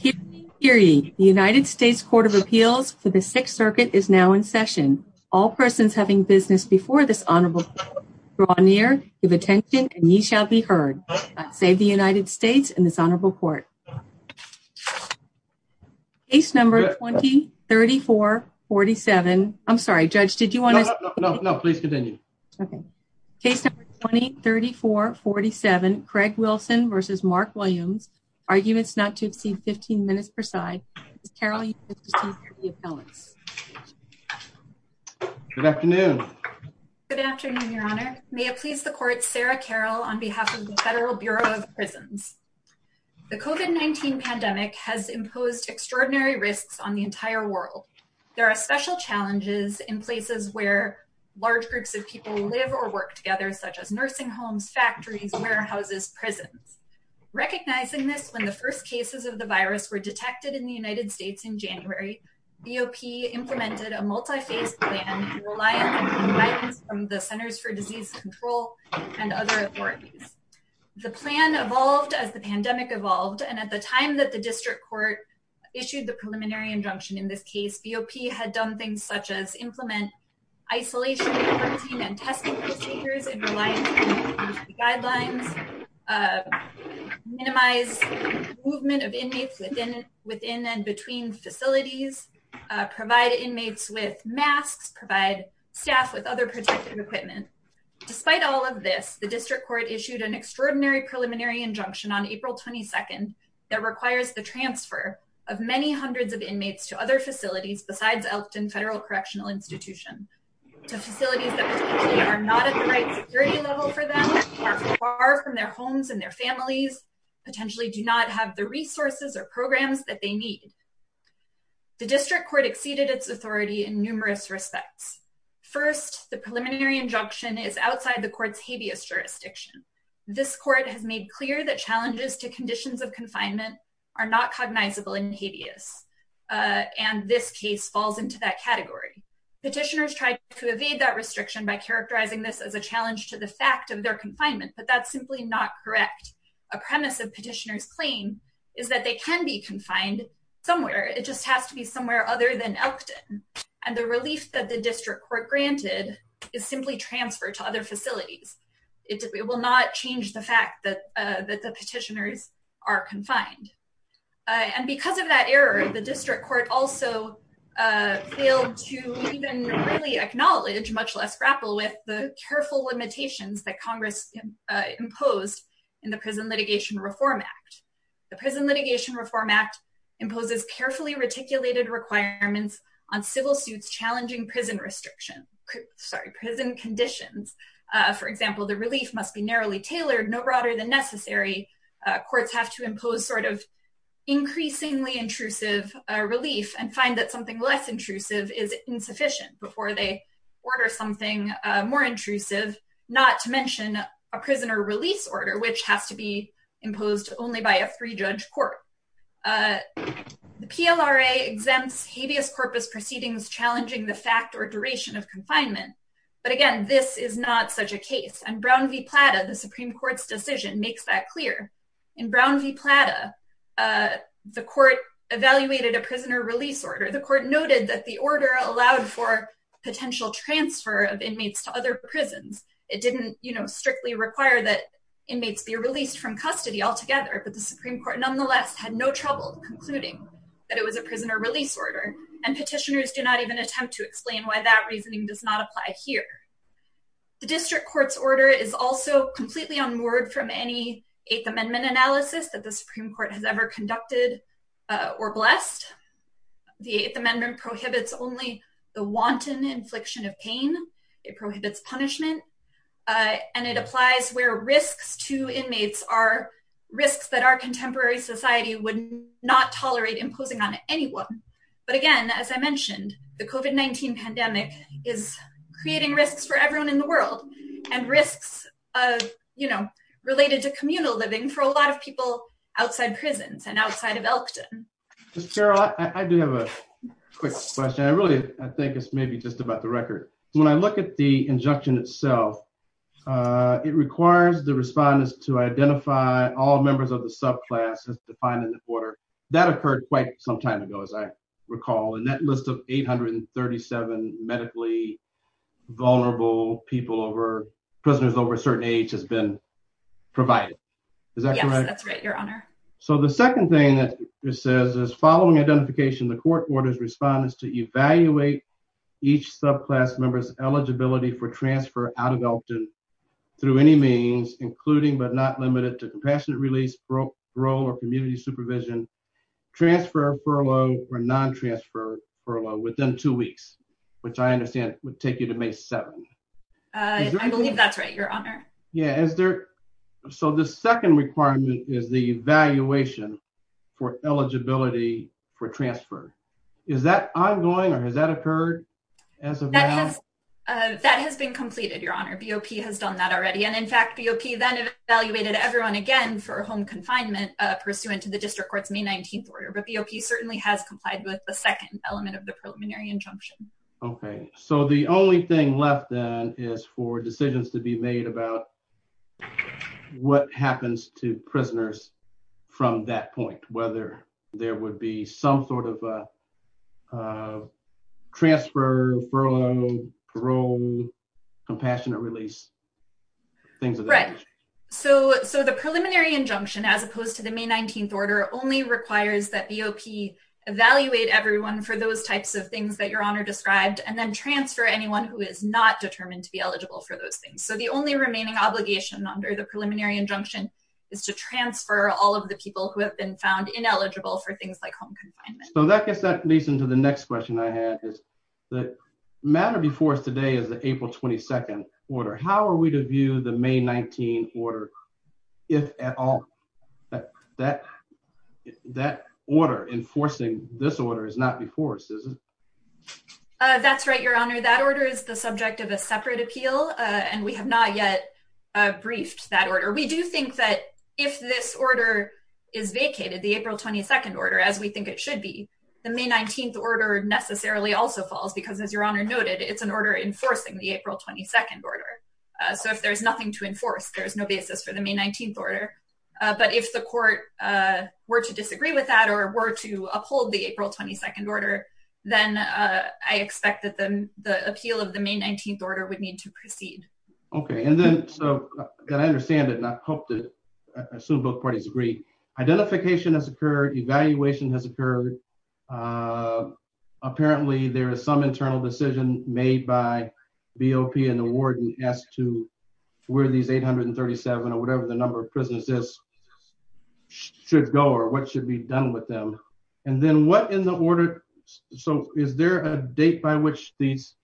The United States Court of Appeals for the Sixth Circuit is now in session. All persons having business before this honorable court draw near, give attention, and ye shall be heard. God save the United States and this honorable court. Case number 20-34-47. I'm sorry, Judge, did you want to... No, no, no, please continue. Okay. Case number 20-34-47, Craig Wilson v. Mark Williams, arguments not to exceed 15 minutes per side. Ms. Carroll, you have received the appellants. Good afternoon. Good afternoon, Your Honor. May it please the court, Sarah Carroll on behalf of the Federal Bureau of Prisons. The COVID-19 pandemic has imposed extraordinary risks on the entire world. There are special challenges in places where large groups of people live or work such as nursing homes, factories, warehouses, prisons. Recognizing this, when the first cases of the virus were detected in the United States in January, BOP implemented a multi-phase plan to rely on guidance from the Centers for Disease Control and other authorities. The plan evolved as the pandemic evolved, and at the time that the district court issued the preliminary injunction in this case, BOP had done things such as implement isolation, quarantine, and testing procedures in reliance on the guidelines, minimize movement of inmates within and between facilities, provide inmates with masks, provide staff with other protective equipment. Despite all of this, the district court issued an extraordinary preliminary injunction on April 22nd that requires the transfer of many hundreds of inmates to other facilities besides Elkton Federal Correctional Institution, to facilities that potentially are not at the right security level for them, are far from their homes and their families, potentially do not have the resources or programs that they need. The district court exceeded its authority in numerous respects. First, the preliminary injunction is outside the court's habeas jurisdiction. This court has made clear that challenges to conditions of confinement are not cognizable in habeas, and this case falls into that category. Petitioners tried to evade that restriction by characterizing this as a challenge to the fact of their confinement, but that's simply not correct. A premise of petitioners' claim is that they can be confined somewhere, it just has to be somewhere other than Elkton, and the relief that the district court granted is simply transfer to other facilities. It will not change the fact that the petitioners are confined. And because of that error, the district court also failed to even really acknowledge, much less grapple with, the careful limitations that Congress imposed in the Prison Litigation Reform Act. The Prison Litigation Reform Act imposes carefully reticulated requirements on civil suits challenging prison restrictions, sorry, prison conditions. For example, the relief must be narrowly tailored, no broader than necessary. Courts have to impose sort of increasingly intrusive relief and find that something less intrusive is insufficient before they order something more intrusive, not to mention a prisoner release order, which has to be challenging the fact or duration of confinement. But again, this is not such a case. And Brown v. Plata, the Supreme Court's decision, makes that clear. In Brown v. Plata, the court evaluated a prisoner release order. The court noted that the order allowed for potential transfer of inmates to other prisons. It didn't, you know, strictly require that inmates be released from custody altogether, but the Supreme Court nonetheless had no trouble concluding that it was a prisoner release order. And petitioners do not even attempt to explain why that reasoning does not apply here. The district court's order is also completely unmoored from any Eighth Amendment analysis that the Supreme Court has ever conducted or blessed. The Eighth Amendment prohibits only the wanton infliction of pain. It prohibits punishment. And it applies where risks to inmates are risks that our contemporary society would not tolerate imposing on anyone. But again, as I mentioned, the COVID-19 pandemic is creating risks for everyone in the world and risks of, you know, related to communal living for a lot of people outside prisons and outside of Elkton. Ms. Carroll, I do have a quick question. I really, I think it's maybe just about the record. When I look at the injunction itself, it requires the respondents to identify all members of the recall. And that list of 837 medically vulnerable people over prisoners over a certain age has been provided. Is that correct? Yes, that's right, Your Honor. So the second thing that it says is, following identification, the court orders respondents to evaluate each subclass member's eligibility for transfer out of Elkton through any means, including but not limited to compassionate release, parole, or community supervision, transfer, furlough, or non-transfer furlough within two weeks, which I understand would take you to May 7th. I believe that's right, Your Honor. Yeah. So the second requirement is the evaluation for eligibility for transfer. Is that ongoing or has that occurred as of now? That has been completed, Your Honor. BOP has done that already. And in fact, BOP then evaluated everyone again for home confinement pursuant to the district court's May 19th order. But BOP certainly has complied with the second element of the preliminary injunction. Okay. So the only thing left then is for decisions to be made about what happens to prisoners from that point, whether there would be some sort of a transfer, furlough, parole, compassionate release, things of that nature. Right. So the preliminary injunction, as opposed to the May 19th order, only requires that BOP evaluate everyone for those types of things that Your Honor described, and then transfer anyone who is not determined to be eligible for those things. So the only remaining obligation under the preliminary injunction is to transfer all of the people who have been found ineligible for things like home confinement. So that gets me to the next question I had. The matter before us today is the April 22nd order. How are we to view the May 19th order if at all that order enforcing this order is not before us? That's right, Your Honor. That order is the subject of a separate appeal, and we have not yet briefed that order. We do think that if this order is vacated, the April 22nd order, as we think it should be, the May 19th order necessarily also falls because, as Your Honor noted, it's an order enforcing the April 22nd order. So if there's nothing to enforce, there's no basis for the May 19th order. But if the court were to disagree with that or were to uphold the April 22nd order, then I expect that the appeal of the May 19th order would need to proceed. Okay, and then so that I understand it, and I hope to assume both parties agree, identification has occurred, evaluation has occurred. Apparently, there is some internal decision made by BOP and the warden as to where these 837 or whatever the number of prisoners is should go or what should be done with them. And then what in the order, so is there a date by which these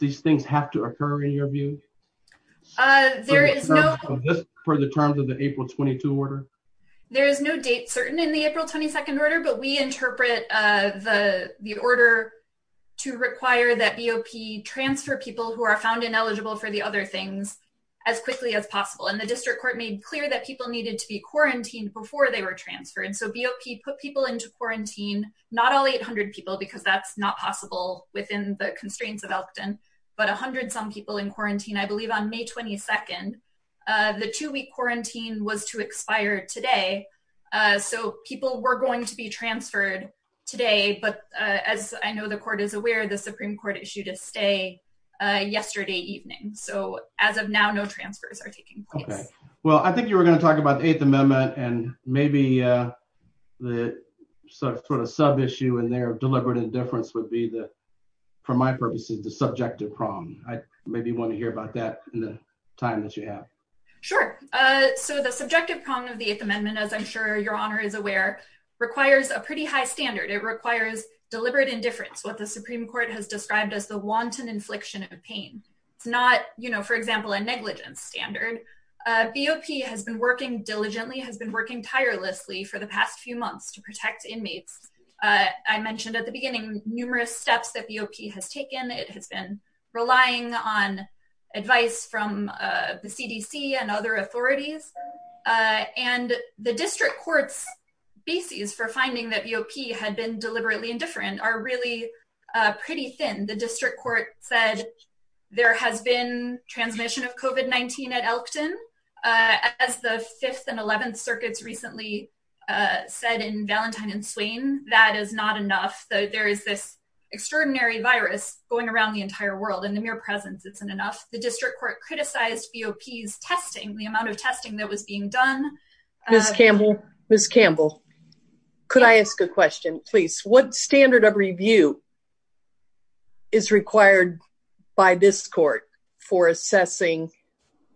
things have to occur in your But we interpret the order to require that BOP transfer people who are found ineligible for the other things as quickly as possible. And the district court made clear that people needed to be quarantined before they were transferred. So BOP put people into quarantine, not all 800 people, because that's not possible within the constraints of Elkton, but 100 some people in So people were going to be transferred today. But as I know, the court is aware, the Supreme Court issued a stay yesterday evening. So as of now, no transfers are taking place. Well, I think you were going to talk about the Eighth Amendment and maybe the sort of sub issue and their deliberate indifference would be the, for my purposes, the subjective problem. I maybe want to hear about that in the time that you have. Sure. So the subjective problem of the Eighth Amendment, as I'm sure your honor is aware, requires a pretty high standard, it requires deliberate indifference, what the Supreme Court has described as the wanton infliction of pain. It's not, you know, for example, a negligence standard. BOP has been working diligently has been working tirelessly for the past few months to protect inmates. I mentioned at the beginning, numerous steps that BOP has taken, it has been relying on advice from the CDC and other authorities. And the district courts basis for finding that BOP had been deliberately indifferent are really pretty thin. The district court said, there has been transmission of COVID-19 at Elkton, as the fifth and 11th circuits recently said in Valentine and Swain, that is not enough, that there is this extraordinary virus going around the entire world and the mere presence isn't enough. The district court criticized BOP's testing, the amount of testing that was being done. Ms. Campbell, Ms. Campbell, could I ask a question, please? What standard of review is required by this court for assessing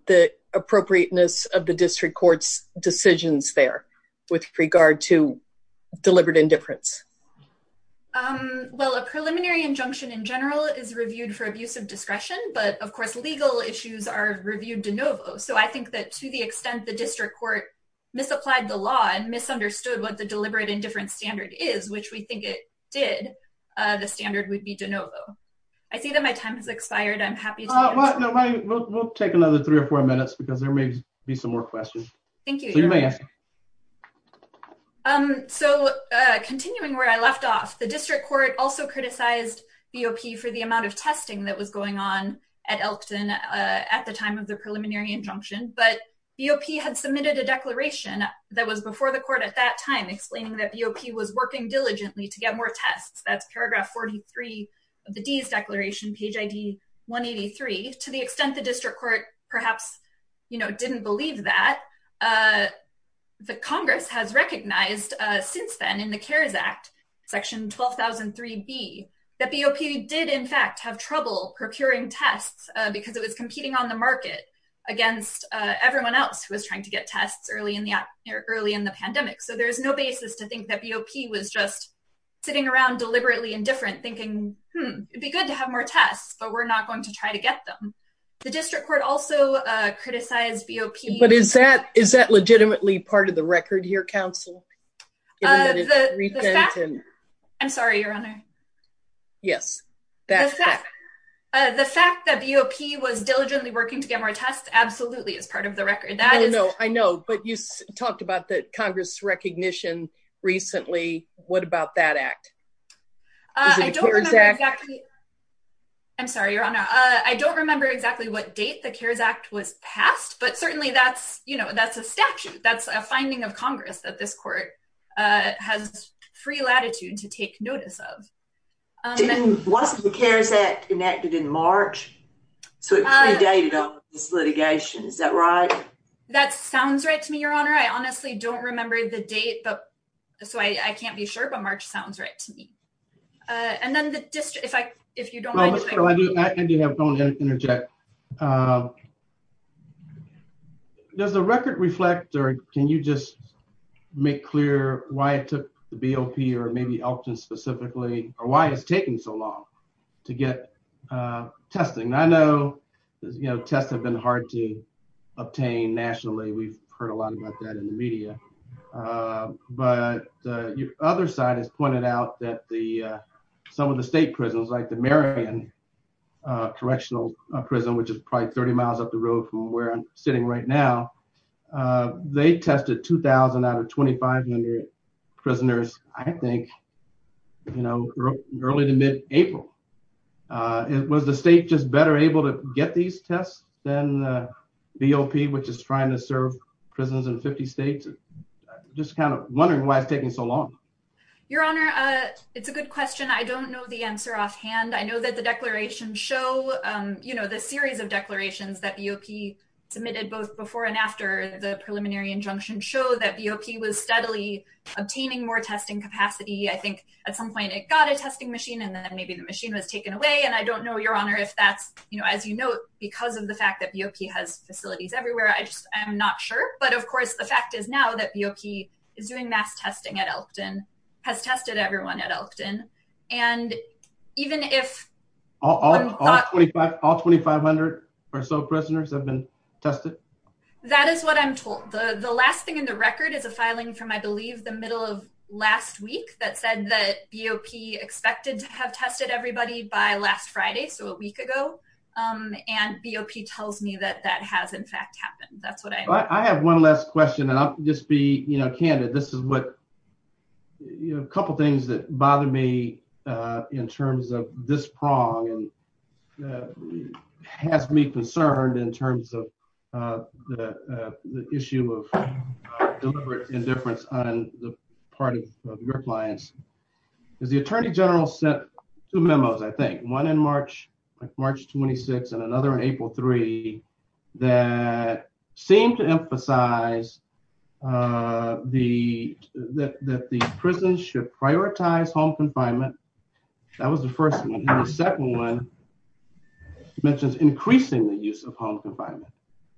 the appropriateness of the district court's decisions there with regard to deliberate indifference? Well, a preliminary injunction in general is reviewed for abuse of discretion, but of course, legal issues are reviewed de novo. So I think that to the extent the district court misapplied the law and misunderstood what the deliberate indifference standard is, which we think it did, the standard would be de novo. I see that my time has expired. I'm happy. We'll take another three or four minutes because there may be some more questions. Thank you. So continuing where I left off, the district court also criticized BOP for the amount of testing that was going on at Elkton at the time of the preliminary injunction. But BOP had submitted a declaration that was before the court at that time explaining that BOP was working diligently to get more tests. That's paragraph 43 of the D's declaration, page ID 183. To the extent the district court perhaps didn't believe that, the Congress has recognized since then in the CARES Act, section 12003B, that BOP did in fact have trouble procuring tests because it was competing on the market against everyone else who was trying to get tests early in the pandemic. So there's no basis to think that BOP was just sitting around deliberately indifferent thinking, hmm, it'd be good to have more tests, but we're not going to try to get them. The district court also criticized BOP- Is that legitimately part of the record here, counsel? I'm sorry, Your Honor. Yes. The fact that BOP was diligently working to get more tests absolutely is part of the record. I know, but you talked about the Congress' recognition recently. What about that act? I don't remember exactly- I'm sorry, Your Honor. I don't remember exactly what date the CARES Act was passed, but certainly that's a statute. That's a finding of Congress that this court has free latitude to take notice of. Wasn't the CARES Act enacted in March? So it predated on this litigation. Is that right? That sounds right to me, Your Honor. I honestly don't remember the date, so I can't be sure, but March sounds right to me. And then the district, if you don't mind- I do have a point to interject. Does the record reflect, or can you just make clear why it took the BOP, or maybe Elkton specifically, or why it's taking so long to get testing? I know tests have been hard to obtain nationally. We've heard a lot about that in the media, but your other side has pointed out that some of the state prisons, like the Marion Correctional Prison, which is probably 30 miles up the road from where I'm sitting right now, they tested 2,000 out of 2,500 prisoners, I think, you know, early to mid-April. Was the state just better able to get these tests than the BOP, which is trying to serve prisons in 50 states? Just kind of wondering why it's taking so long. Your Honor, it's a good question. I don't know the answer offhand. I know that the declarations show, you know, the series of declarations that BOP submitted, both before and after the preliminary injunction, show that BOP was steadily obtaining more testing capacity. I think at some point it got a testing machine, and then maybe the machine was taken away, and I don't know, Your Honor, if that's, you know, as you note, because of the fact that BOP has facilities everywhere, I'm not sure. But, of course, the fact is now that BOP is doing mass testing at Elkton, has tested everyone at Elkton, and even if— All 2,500 or so prisoners have been tested? That is what I'm told. The last thing in the record is a filing from, I believe, the middle of last week that said that BOP expected to have tested everybody by last Friday, so a week ago, and BOP tells me that that has, in fact, happened. That's what I know. I have one last question, and I'll just be, you know, candid. This is what—a couple things that bother me in terms of this prong and has me concerned in terms of the issue of deliberate indifference on the part of your clients, is the Attorney General sent two memos, I think, one in March, like March 26, and another in April 3, that seemed to emphasize that the prison should prioritize home confinement. That was the first one. The second one mentions increasing the use of home confinement,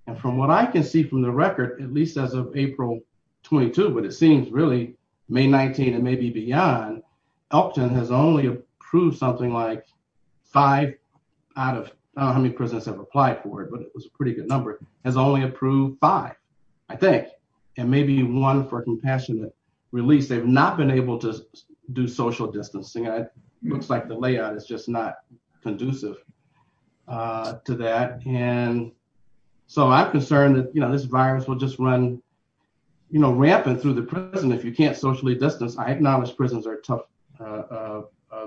and from what I can see from the record, at least as of April 22, but it seems really May 19 and maybe beyond, Elkton has only approved something like five out of—I don't know how many prisons have applied for it, but it was a pretty good number—has only approved five, I think, and maybe one for compassionate release. They've not been able to do social distancing. It looks like the layout is just not conducive to that, and so I'm concerned that, you know, this virus will just run, you know, rampant through the prison if you can't socially distance. I acknowledge prisons are a tough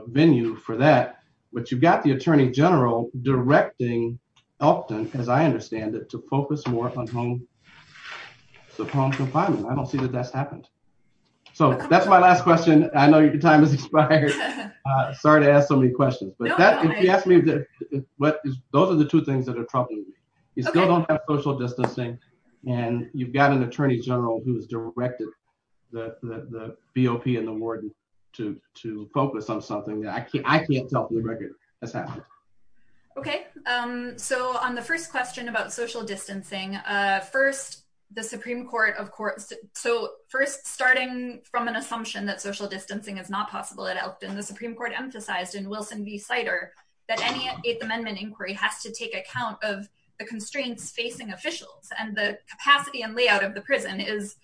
venue for that, but you've got the Attorney General directing Elkton, as I understand it, to focus more on home—on home confinement. I don't see that that's happened. So that's my last question. I know your time has expired. Sorry to ask so many questions, but that—if you ask me, what—those are the two things that are troubling me. You still don't have social distancing, and you've got an Attorney General who has directed the—the BOP and the warden to—to focus on something that I can't—I can't tell from the record that's happened. Okay, so on the first question about social distancing, first, the Supreme Court, of course—so first, starting from an assumption that social distancing is not possible at Elkton, the Supreme Court emphasized in Wilson v. Sider that any Eighth Amendment inquiry has to take account of the constraints facing officials, and the capacity and layout of the prison is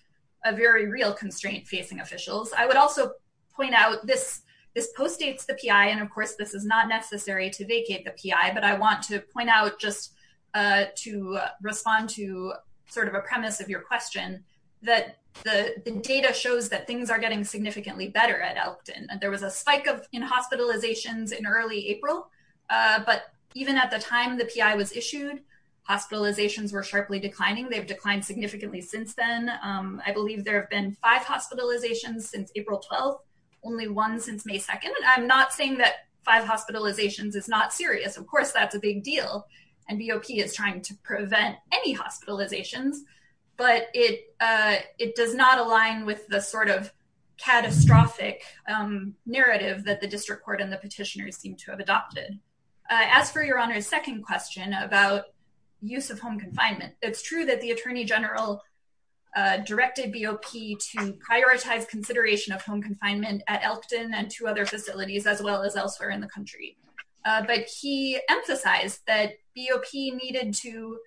a very real constraint facing officials. I would also point out this—this postdates the PI, and of course this is not necessary to vacate the PI, but I want to point out just to respond to sort of a premise of your question, that the—the data shows that things are getting significantly better at Elkton. There was a spike of in hospitalizations in early April, but even at the time the PI was issued, hospitalizations were sharply declining. They've declined significantly since then. I believe there have been five hospitalizations since April 12th, only one since May 2nd, and I'm not saying that five hospitalizations is not serious. Of course, that's a big deal, and BOP is trying to prevent any hospitalizations, but it—it does not align with the sort of catastrophic narrative that the district court and the petitioners seem to have adopted. As for Your Honor's second question about use of home confinement, it's true that the Attorney General directed BOP to prioritize consideration of home confinement at Elkton and two other facilities, as well as elsewhere in the country, but he emphasized that BOP needed to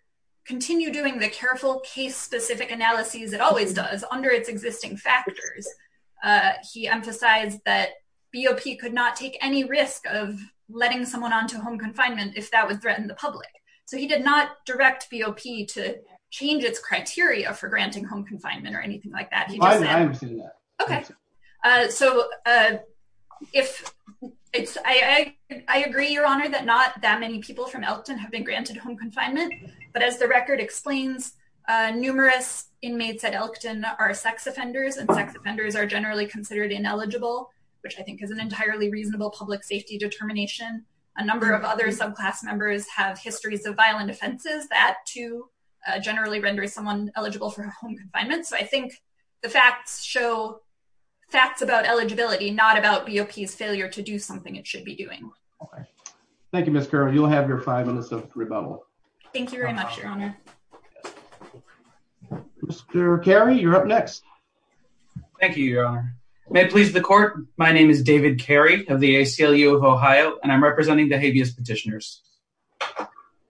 continue doing the careful case-specific analyses it always does under its existing factors. He emphasized that BOP could not take any risk of letting someone onto home confinement if that would threaten the public, so he did not direct BOP to change its criteria for granting home confinement or anything like that. He just said— I understand that. Okay, so if it's—I—I agree, Your Honor, that not that many people from Elkton have been granted home confinement, but as the record explains, numerous inmates at Elkton are sex offenders, and sex offenders are generally considered ineligible, which I think is an entirely reasonable public safety determination. A number of other subclass members have histories of violent offenses. That, too, generally renders someone eligible for home confinement, so I think the facts show facts about eligibility, not about BOP's failure to do something it should be doing. All right. Thank you, Ms. Carroll. You'll have your five minutes of rebuttal. Thank you very much, Your Honor. Mr. Carey, you're up next. Thank you, Your Honor. May it please the Court, my name is David Carey of the ACLU of Ohio, and I'm representing the habeas petitioners.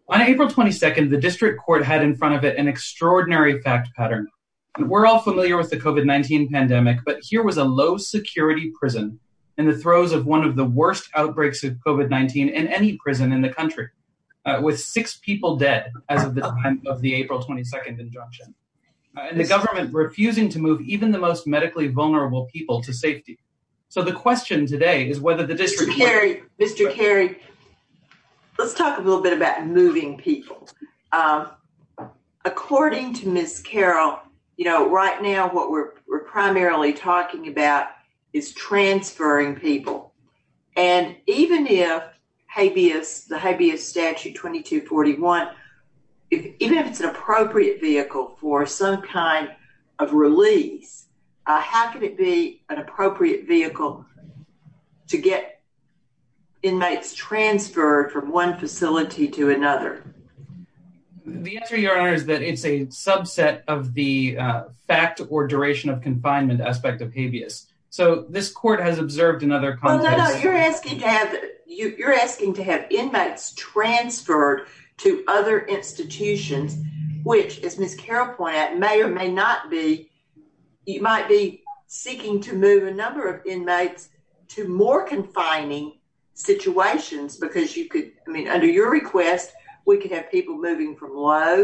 On April 22nd, the district court had in front of it an extraordinary fact pattern. We're all familiar with the COVID-19 pandemic, but here was a low-security prison in the throes of one of the worst outbreaks of COVID-19 in any prison in the country, with six people dead as of the time of the April 22nd injunction, and the government refusing to move even the most medically vulnerable people to safety. So the question today is whether the district... Mr. Carey, Mr. Carey, let's talk a little bit about moving people. According to Ms. Carroll, you know, right now what we're primarily talking about is transferring people, and even if habeas, the habeas statute 2241, even if it's an appropriate vehicle for some kind of release, how can it be an appropriate vehicle to get inmates transferred from one facility to another? The answer, Your Honor, is that it's a subset of the fact or duration of confinement aspect of habeas. So this court has observed in other contexts... No, no, no, you're asking to have inmates transferred to other institutions, which, as Ms. Carroll pointed out, may or may not be... You might be seeking to move a number of inmates to more confining situations because you could... I mean, under your request, we could have people moving from low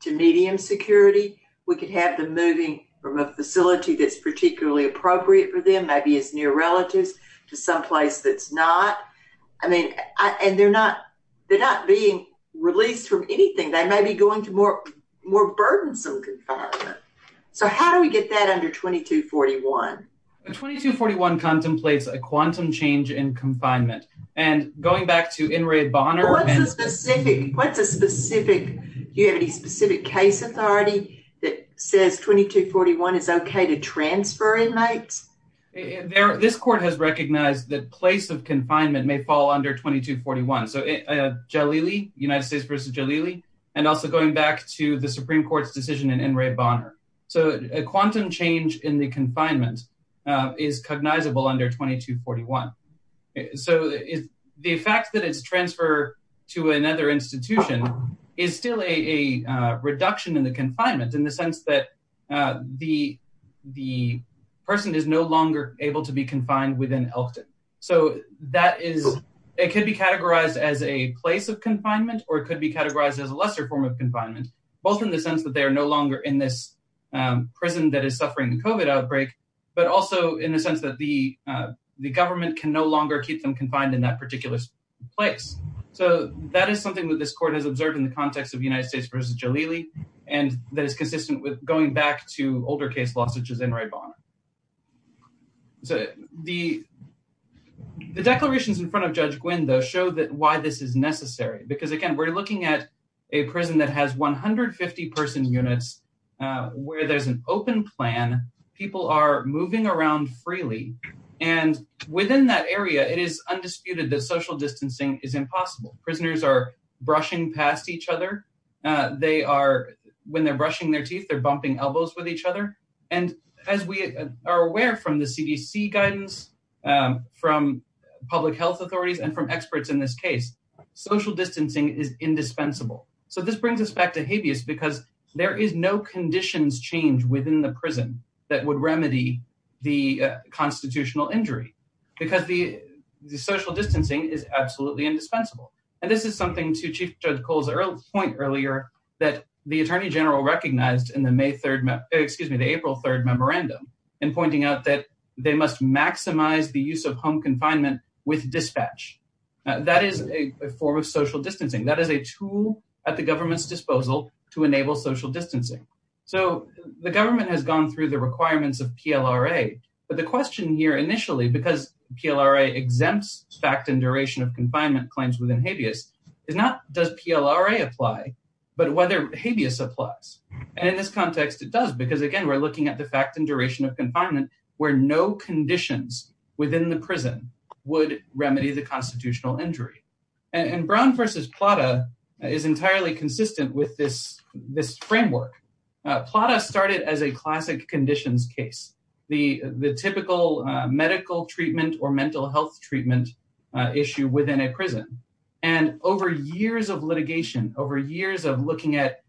to medium security. We could have them moving from a facility that's particularly appropriate for them, maybe it's near relatives, to someplace that's not. I mean, and they're not being released from anything. They may be going to more burdensome confinement. So how do we get that under 2241? 2241 contemplates a quantum change in confinement. And going back to In re Bonner... What's a specific... Do you have any specific case authority that says 2241 is okay to transfer inmates? This court has recognized that place of confinement may fall under 2241. So Jalili, United States versus Jalili. And also going back to the Supreme Court's decision in In re Bonner. So a quantum change in the confinement is cognizable under 2241. So the fact that it's transfer to another institution is still a reduction in the confinement in the sense that the person is no longer able to be confined within Elkton. So that is... It could be categorized as a place of confinement, or it could be categorized as a lesser form of confinement, both in the sense that they are no longer in this prison that is suffering the COVID outbreak, but also in the sense that the government can no longer keep them confined in that particular place. So that is something that this court has observed in the context of United States versus Jalili, and that is consistent with going back to older case law such as In re Bonner. So the declarations in front of Judge Gwynne, though, show that why this is necessary. Because again, we're looking at a prison that has 150 person units, where there's an open plan, people are moving around freely. And within that area, it is undisputed that social distancing is impossible. Prisoners are brushing past each other. They are, when they're brushing their teeth, they're bumping elbows with each other. And as we are aware from the CDC guidance, from public health authorities, and from experts in this case, social distancing is indispensable. So this brings us back to habeas, because there is no conditions change within the prison that would remedy the constitutional injury, because the social distancing is absolutely indispensable. And this is something to Chief Judge Cole's point earlier, that the Attorney General recognized in the May 3rd, excuse me, the April 3rd memorandum, and pointing out that they must maximize the use of home confinement with dispatch. That is a form of social distancing. That is a tool at the government's disposal to enable social distancing. So the government has gone through the requirements of PLRA. But the question here initially, because PLRA exempts fact and duration of confinement claims within habeas, is not does PLRA apply, but whether habeas applies. And in this context, it does, because again, we're looking at the fact and duration of confinement, where no conditions within the prison would remedy the constitutional injury. And Brown v. Plata is entirely consistent with this framework. Plata started as a classic conditions case, the typical medical treatment or mental health treatment issue within a prison. And over years of litigation, over years of looking at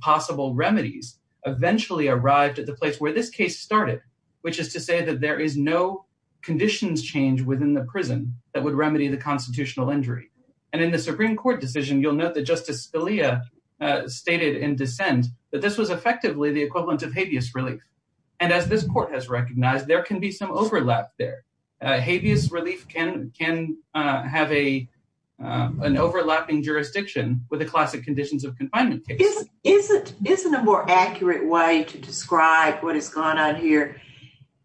possible remedies, eventually arrived at the place where this case started, which is to say that there is no conditions change within the prison that would remedy the constitutional injury. And in the Supreme Court decision, you'll note that Justice Scalia stated in dissent that this was effectively the equivalent of habeas relief. And as this court has recognized, there can be some overlap there. Habeas relief can have an overlapping jurisdiction with the classic conditions of confinement. Isn't a more accurate way to describe what has gone on here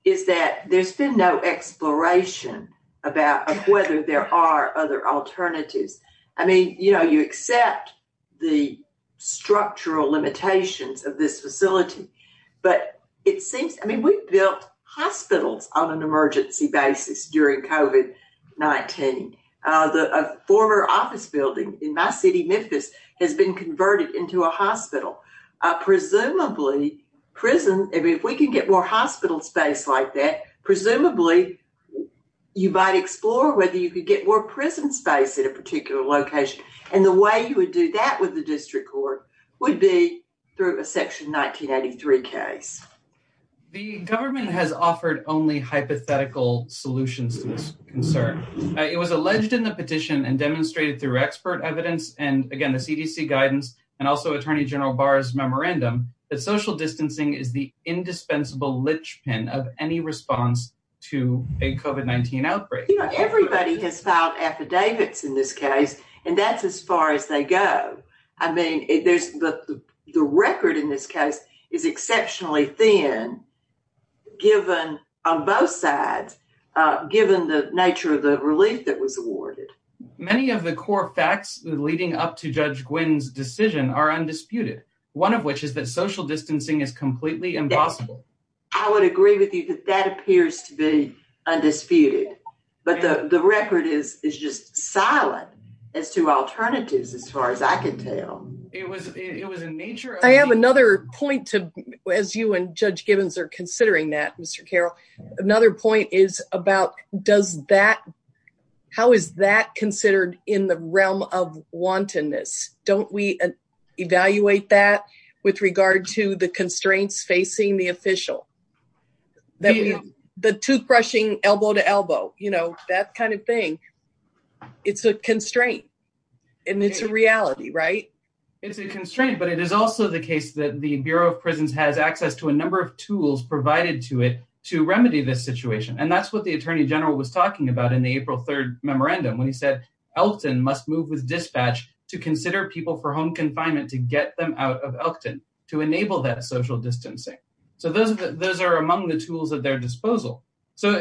is that there's been no exploration about whether there are other alternatives. I mean, you know, you accept the structural limitations of this facility, but it seems, I mean, we built hospitals on an emergency basis during COVID-19. The former office building in my city, Memphis, has been converted into a hospital. Presumably prison, if we can get more hospital space like that, presumably you might explore whether you could get more prison space at a particular location. And the way you would do that with the district court would be through a section 1983 case. The government has offered only hypothetical solutions to this concern. It was alleged in the petition and demonstrated through expert evidence and again, the CDC guidance and also Attorney General Barr's memorandum that social distancing is the indispensable lichpin of any response to a COVID-19 outbreak. You know, everybody has filed affidavits in this case, and that's as far as they go. I mean, the record in this case is exceptionally thin given on both sides, given the nature of the relief that was awarded. Many of the core facts leading up to Judge Gwinn's decision are undisputed, one of which is that social distancing is completely impossible. I would agree with you that that appears to be undisputed, but the record is just silent as to alternatives as far as I can tell. It was a nature of the- I have another point to, as you and Judge Gibbons are considering that, Mr. Carroll, another point is about how is that considered in the realm of wantonness? Don't we evaluate that with regard to the constraints facing the official? The toothbrushing elbow to elbow, you know, that kind of thing. It's a constraint, and it's a reality, right? It's a constraint, but it is also the case that the Bureau of Prisons has access to a number of tools provided to it to remedy this situation. And that's what the Attorney General was talking about in the April 3rd memorandum when he said Elkton must move with dispatch to consider people for home confinement to get them out of Elkton to enable that social distancing. So those are among the tools at their disposal. So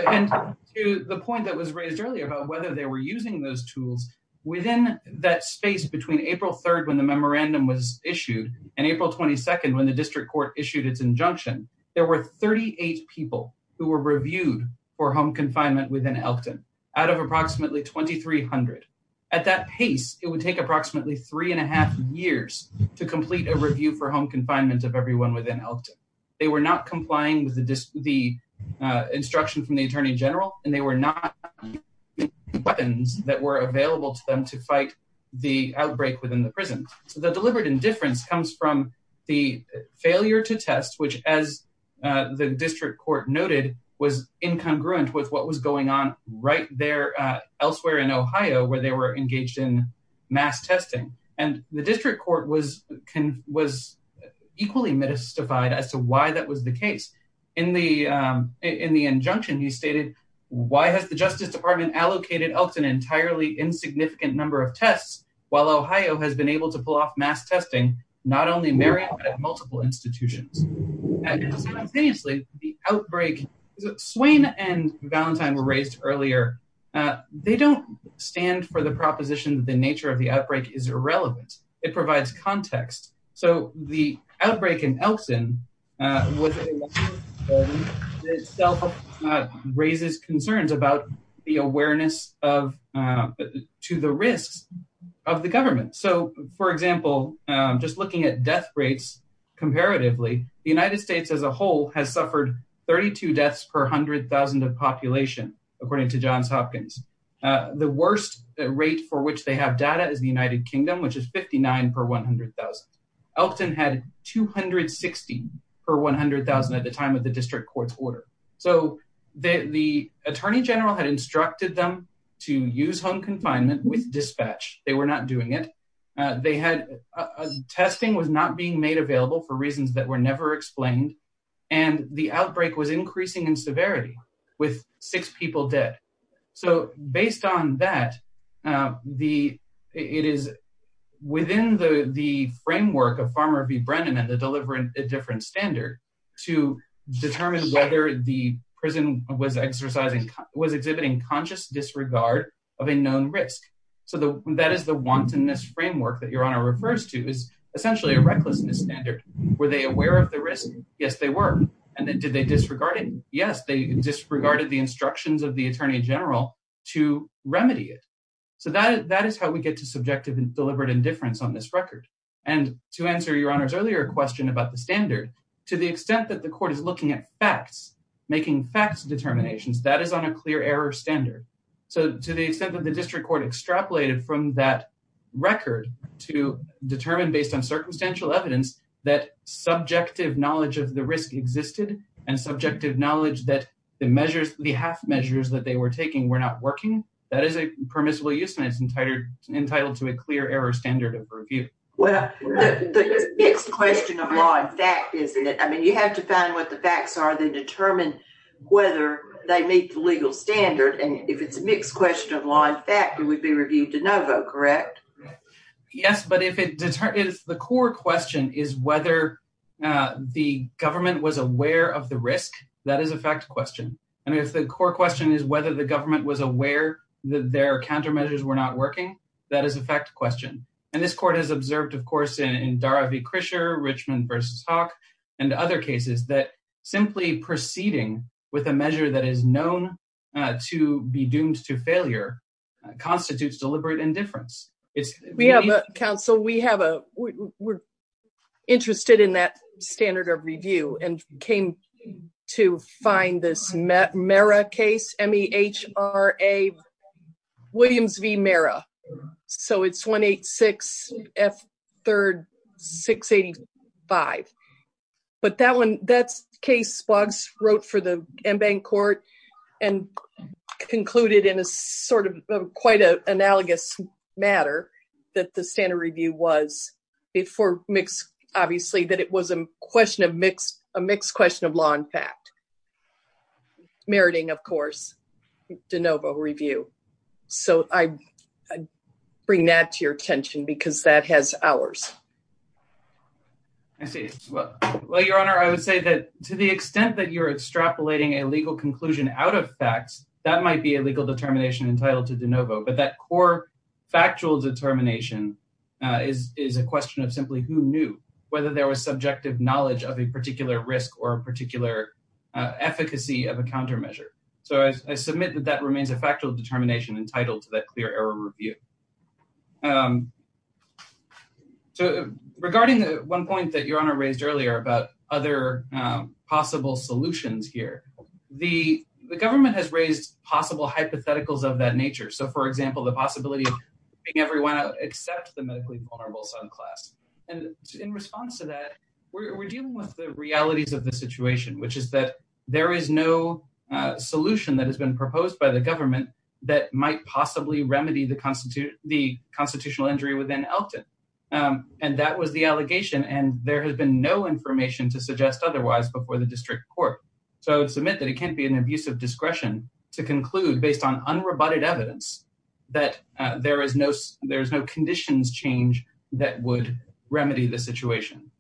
to the point that was raised earlier about whether they were using those tools, within that space between April 3rd when the memorandum was issued and April 22nd when the district court issued its injunction, there were 38 people who were reviewed for home confinement within Elkton out of approximately 2,300. At that pace, it would take approximately three and a half years to complete a review for home confinement of everyone within Elkton. They were not complying with the instruction from the Attorney General, and they were not weapons that were available to them to fight the outbreak within the prison. So the deliberate indifference comes from the failure to test, which, as the district court noted, was incongruent with what was going on right there elsewhere in Ohio where they were engaged in mass testing. And the district court was equally mystified as to why that was the case. In the injunction, he stated, why has the Justice Department allocated Elkton an entirely insignificant number of tests while Ohio has been able to pull off mass testing not only in Maryland but at multiple institutions? And simultaneously, the outbreak... Swain and Valentine were raised earlier. They don't stand for the proposition that the nature of the outbreak is irrelevant. It provides context. So the outbreak in Elkton was... itself raises concerns about the awareness to the risks of the government. So, for example, just looking at death rates comparatively, the United States as a whole has suffered 32 deaths per 100,000 of population, according to Johns Hopkins. The worst rate for which they have data is the United Kingdom, which is 59 per 100,000. Elkton had 260 per 100,000 at the time of the district court's order. So the Attorney General had instructed them to use home confinement with dispatch. They were not doing it. Testing was not being made available for reasons that were never explained. And the outbreak was increasing in severity with six people dead. So based on that, it is within the framework of Farmer v. Brennan and the delivering a different standard to determine whether the prison was exercising... was exhibiting conscious disregard of a known risk. So that is the wantonness framework that Your Honor refers to is essentially a recklessness standard. Were they aware of the risk? Yes, they were. And did they disregard it? Yes, they disregarded the instructions of the Attorney General to remedy it. So that is how we get to subjective and deliberate indifference on this record. And to answer Your Honor's earlier question about the standard, to the extent that the court is looking at facts, making facts determinations, that is on a clear error standard. So to the extent that the district court extrapolated from that record to determine based on circumstantial evidence that subjective knowledge of the risk existed and subjective knowledge that the measures, the half measures that they were taking were not working, that is a permissible use, and it's entitled to a clear error standard of review. Well, the mixed question of law and fact, isn't it? I mean, you have to find what the facts are that determine whether they meet the legal standard. And if it's a mixed question of law and fact, it would be reviewed to no vote, correct? Yes, but if it determines... The core question is whether the government was aware of the risk, that is a fact question. And if the core question is whether the government was aware that their countermeasures were not working, that is a fact question. And this court has observed, of course, in Dara v. Krischer, Richmond v. Hawk, and other cases that simply proceeding with a measure that is known to be doomed to failure constitutes deliberate indifference. We have a counsel, we have a... We're interested in that standard of review and came to find this Mehra case, M-E-H-R-A, Williams v. Mehra. So it's 186 F. 3rd, 685. But that one, that's case Spogs wrote for the Embank Court and concluded in a sort of quite an analogous matter that the standard review was before mixed... Obviously, that it was a mixed question of law and fact. Meriting, of course, de novo review. So I bring that to your attention because that has hours. I see. Well, Your Honor, I would say that to the extent that you're extrapolating a legal conclusion out of facts, that might be a legal determination entitled to de novo. But that core factual determination is a question of simply who knew, whether there was subjective knowledge of a particular risk or a particular efficacy of a countermeasure. So I submit that that remains a factual determination entitled to that clear error review. So regarding the one point that Your Honor raised earlier about other possible solutions here, the government has raised possible hypotheticals of that nature. So for example, the possibility of everyone except the medically vulnerable subclass. And in response to that, we're dealing with the realities of the situation, which is that there is no solution that has been proposed by the government that might possibly remedy the constitutional injury within Elkton. And that was the allegation. And there has been no information to suggest otherwise before the district court. So I would submit that it can't be an abuse of discretion to conclude based on unrebutted evidence that there is no conditions change that would remedy the situation.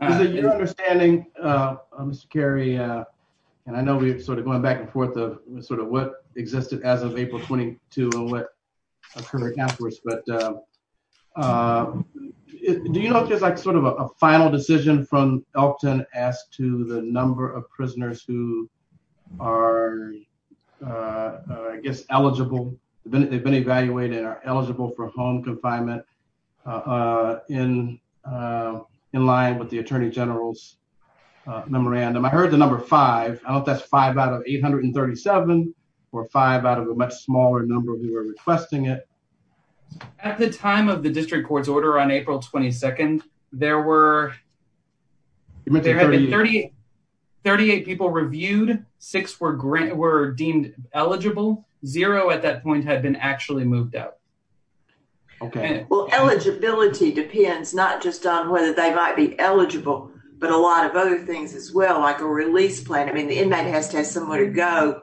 Your understanding, Mr. Carey, and I know we're sort of going back and forth of sort of what existed as of April 22 and what occurred afterwards. But do you know if there's like sort of a final decision from Elkton as to the number of prisoners who are, I guess, eligible. They've been evaluated and are eligible for home confinement in line with the attorney general's memorandum. I heard the number five. I don't know if that's five out of 837 or five out of a much smaller number of you are requesting it. At the time of the district court's order on April 22nd, there were 38 people reviewed. Six were deemed eligible. Zero at that point had been actually moved out. Well, eligibility depends not just on whether they might be eligible, but a lot of other things as well, like a release plan. I mean, the inmate has to have somewhere to go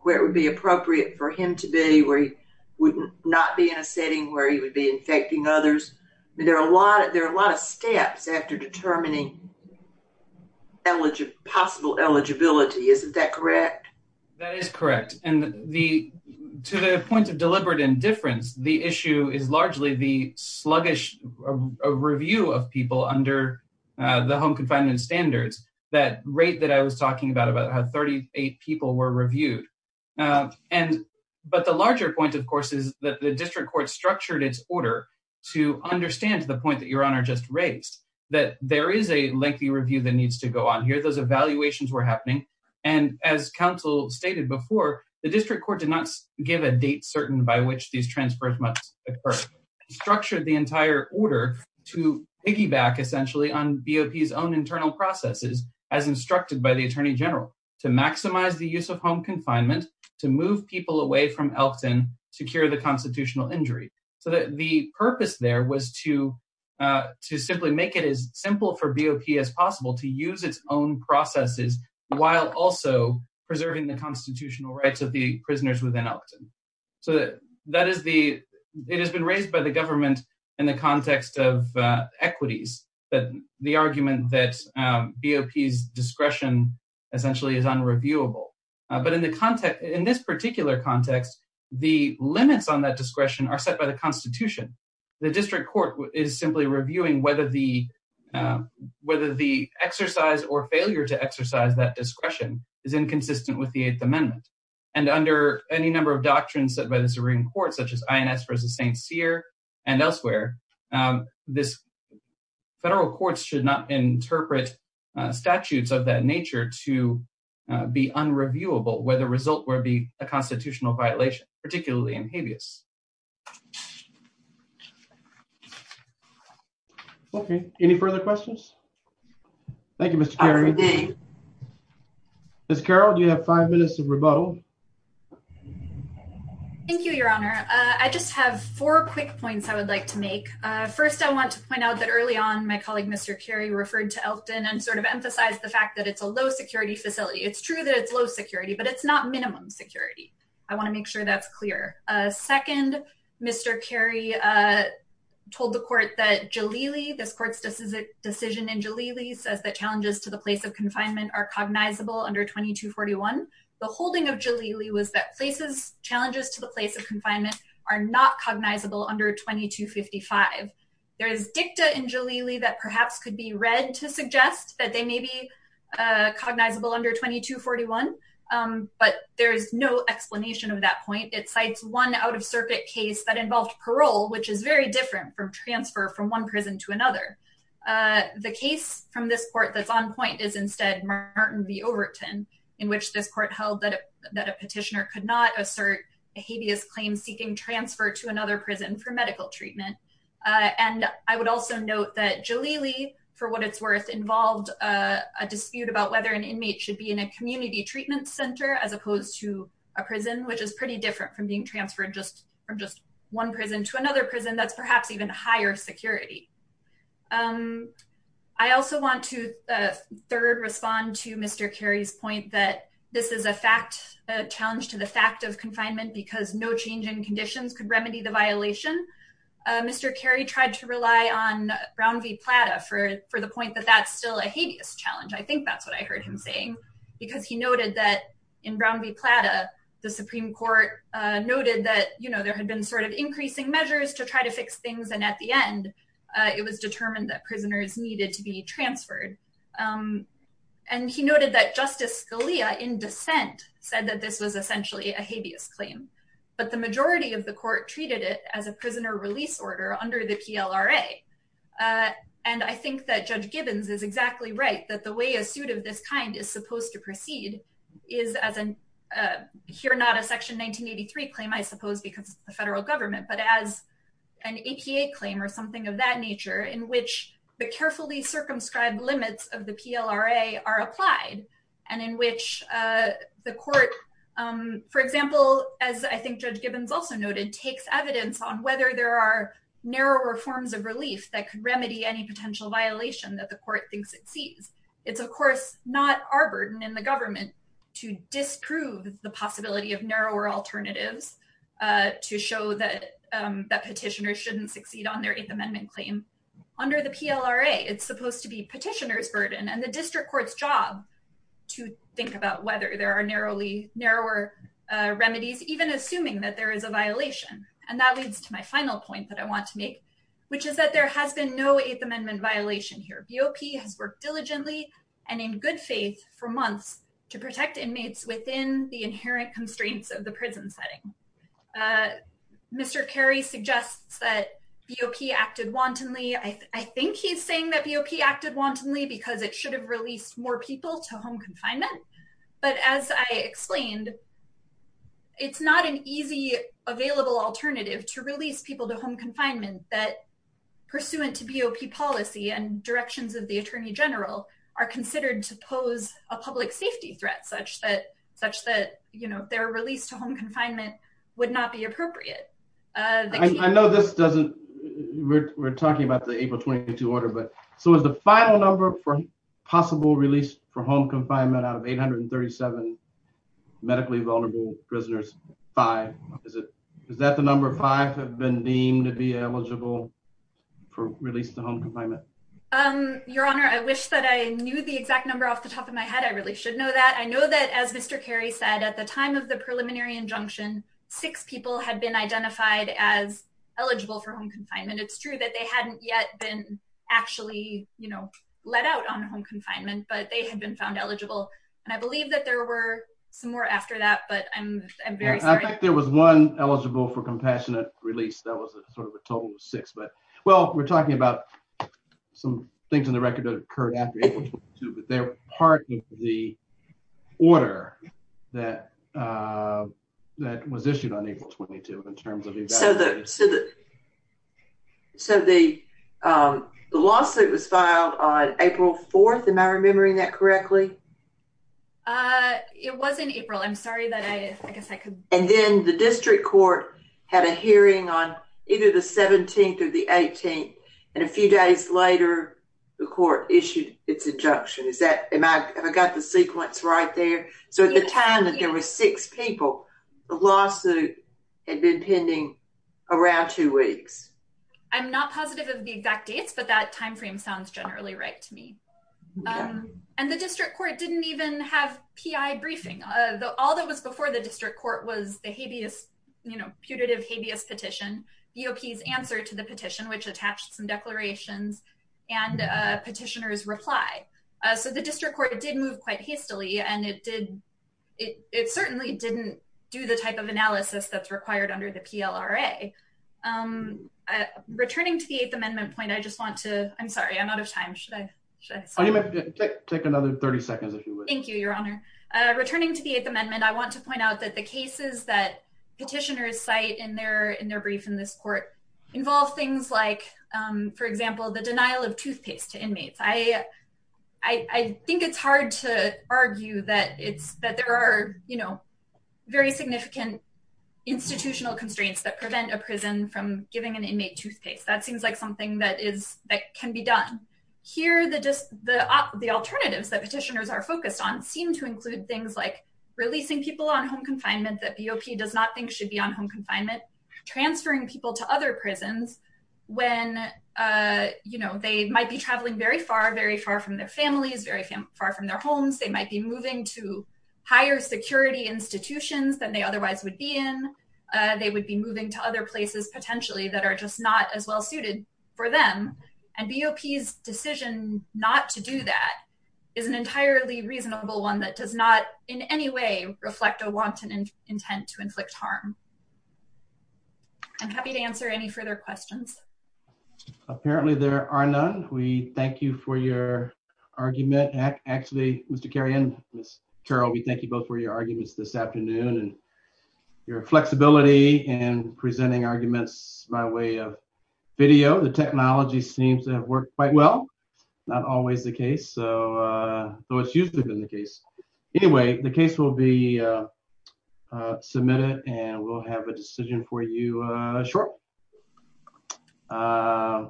where it would be appropriate for him to be where he would not be in a setting where he would be infecting others. I mean, there are a lot of steps after determining possible eligibility. Isn't that correct? That is correct. And to the point of deliberate indifference, the issue is largely the sluggish review of people under the home confinement standards. That rate that I was talking about, about how 38 people were reviewed. And but the larger point, of course, is that the district court structured its order to understand the point that Your Honor just raised, that there is a lengthy review that needs to go on here. Those evaluations were happening. And as counsel stated before, the district court did not give a date certain by which these transfers must occur. It structured the entire order to piggyback essentially on BOP's own internal processes as instructed by the attorney general to maximize the use of home confinement, to move people away from Elkton, to cure the constitutional injury. So that the purpose there was to simply make it as simple for BOP as possible to use its own processes while also preserving the constitutional rights of the prisoners within Elkton. So that is the, it has been raised by the government in the context of equities, that the argument that BOP's discretion essentially is unreviewable. But in this particular context, the limits on that discretion are set by the constitution. The district court is simply reviewing whether the exercise or failure to exercise that discretion is inconsistent with the Eighth Amendment. And under any number of doctrines set by the Supreme Court, such as INS versus St. Cyr and elsewhere, this federal courts should not interpret statutes of that nature to be unreviewable where the result would be a constitutional violation, particularly in habeas. Okay, any further questions? Thank you, Mr. Carey. Ms. Carroll, do you have five minutes of rebuttal? Thank you, your honor. I just have four quick points I would like to make. First, I want to point out that early on, my colleague, Mr. Carey referred to Elkton and sort of emphasized the fact that it's a low security facility. It's true that it's low security, but it's not minimum security. I want to make sure that's clear. Second, Mr. Carey told the court that Jalili, this court's decision in Jalili says that challenges to the place of confinement are cognizable under 2241. The holding of Jalili was that places, challenges to the place of confinement are not cognizable under 2255. There is dicta in Jalili that perhaps could be read to suggest that they may be cognizable under 2241, but there is no explanation of that point. It cites one out of circuit case that involved parole, which is very different from transfer from one prison to another. The case from this court that's on point is instead Martin v. Overton, in which this court held that a petitioner could not assert a habeas claim seeking transfer to another prison for medical treatment. And I would also note that Jalili, for what it's worth, involved a dispute about whether an inmate should be in a community treatment center as opposed to a prison, which is pretty different from being transferred just from just one prison to another prison that's perhaps even higher security. I also want to third respond to Mr. Carey's point that this is a fact, a challenge to the fact of confinement because no change in conditions could remedy the violation. Mr. Carey tried to rely on Brown v. Plata for the point that that's still a habeas challenge. I think that's what I heard him saying because he noted that in Brown v. Plata, the Supreme Court noted that there had been sort of increasing measures to try to fix things. And at the end, it was determined that prisoners needed to be transferred. And he noted that Justice Scalia in dissent said that this was essentially a habeas claim, but the majority of the court treated it as a prisoner release order under the PLRA. And I think that Judge Gibbons is exactly right that the way a suit of this kind is supposed to proceed is as in here, not a section 1983 claim, I suppose, because the federal government, but as an APA claim or something of that nature in which the carefully circumscribed limits of the PLRA are applied and in which the court, for example, as I think Judge Gibbons also noted, takes evidence on whether there are narrower forms of relief that could remedy any potential violation that the court thinks it sees. It's of course, not our burden in the government to disprove the possibility of narrower alternatives to show that petitioners shouldn't succeed on their Eighth Amendment claim. Under the PLRA, it's supposed to be petitioner's burden and the district court's job to think about whether there are narrower remedies, even assuming that there is a violation. And that leads to my final point that I want to make, which is that there has been no Eighth Amendment violation here. BOP has worked diligently and in good faith for months to protect inmates within the inherent constraints of the prison setting. Mr. Carey suggests that BOP acted wantonly. I think he's saying that BOP acted wantonly because it should have released more people to home confinement. But as I explained, it's not an easy available alternative to release people to home confinement that pursuant to BOP policy and directions of the attorney general are considered to pose a public safety threat such that their release to home confinement would not be appropriate. I know this doesn't, we're talking about the April 22 order, but so is the final number for possible release for home confinement out of 837 medically vulnerable prisoners, five. Is that the number five have been deemed to be eligible for release to home confinement? Your Honor, I wish that I knew the exact number off the top of my head. I really should know that. I know that as Mr. Carey said, at the time of the preliminary injunction, six people had been identified as eligible for home confinement. It's true that they hadn't yet been actually let out on home confinement, but they had been found eligible. And I believe that there were some more after that, but I'm very sorry. I think there was one eligible for compassionate release. That was sort of a total of six, but well, we're talking about some things in the record that occurred after April 22, but they're part of the order that was issued on April 22 in terms of- So the lawsuit was filed on April 4th Am I remembering that correctly? It was in April. I'm sorry that I guess I could- And then the district court had a hearing on either the 17th or the 18th. And a few days later, the court issued its injunction. Is that, have I got the sequence right there? So at the time that there were six people, the lawsuit had been pending around two weeks. I'm not positive of the exact dates, but that timeframe sounds generally right to me. And the district court didn't even have PI briefing. All that was before the district court was the habeas, putative habeas petition, EOP's answer to the petition, which attached some declarations and a petitioner's reply. So the district court did move quite hastily and it certainly didn't do the type of analysis that's required under the PLRA. Returning to the eighth amendment point, I just want to, I'm sorry, I'm out of time. Should I, should I- Oh, you may take another 30 seconds if you wish. Thank you, your honor. Returning to the eighth amendment, I want to point out that the cases that petitioners cite in their brief in this court involve things like, for example, the denial of toothpaste to inmates. I think it's hard to argue that it's, that there are very significant institutional constraints that prevent a prison from giving an inmate toothpaste. That seems like something that is, that can be done. Here, the alternatives that petitioners are focused on seem to include things like releasing people on home confinement that BOP does not think should be on home confinement, transferring people to other prisons when, you know, they might be traveling very far, very far from their families, very far from their homes. They might be moving to higher security institutions than they otherwise would be in. They would be moving to other places potentially that are just not as well suited for them. And BOP's decision not to do that is an entirely reasonable one that does not in any way reflect a wanton intent to inflict harm. I'm happy to answer any further questions. Apparently there are none. We thank you for your argument. Actually, Mr. Kerrion, Ms. Carroll, we thank you both for your arguments this afternoon and your flexibility in presenting arguments by way of video. The technology seems to have worked quite well. Not always the case, though it's usually been the case. Anyway, the case will be submitted and we'll have a decision for you short.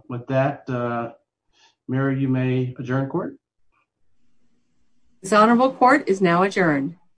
With that, Mayor, you may adjourn court. This honorable court is now adjourned.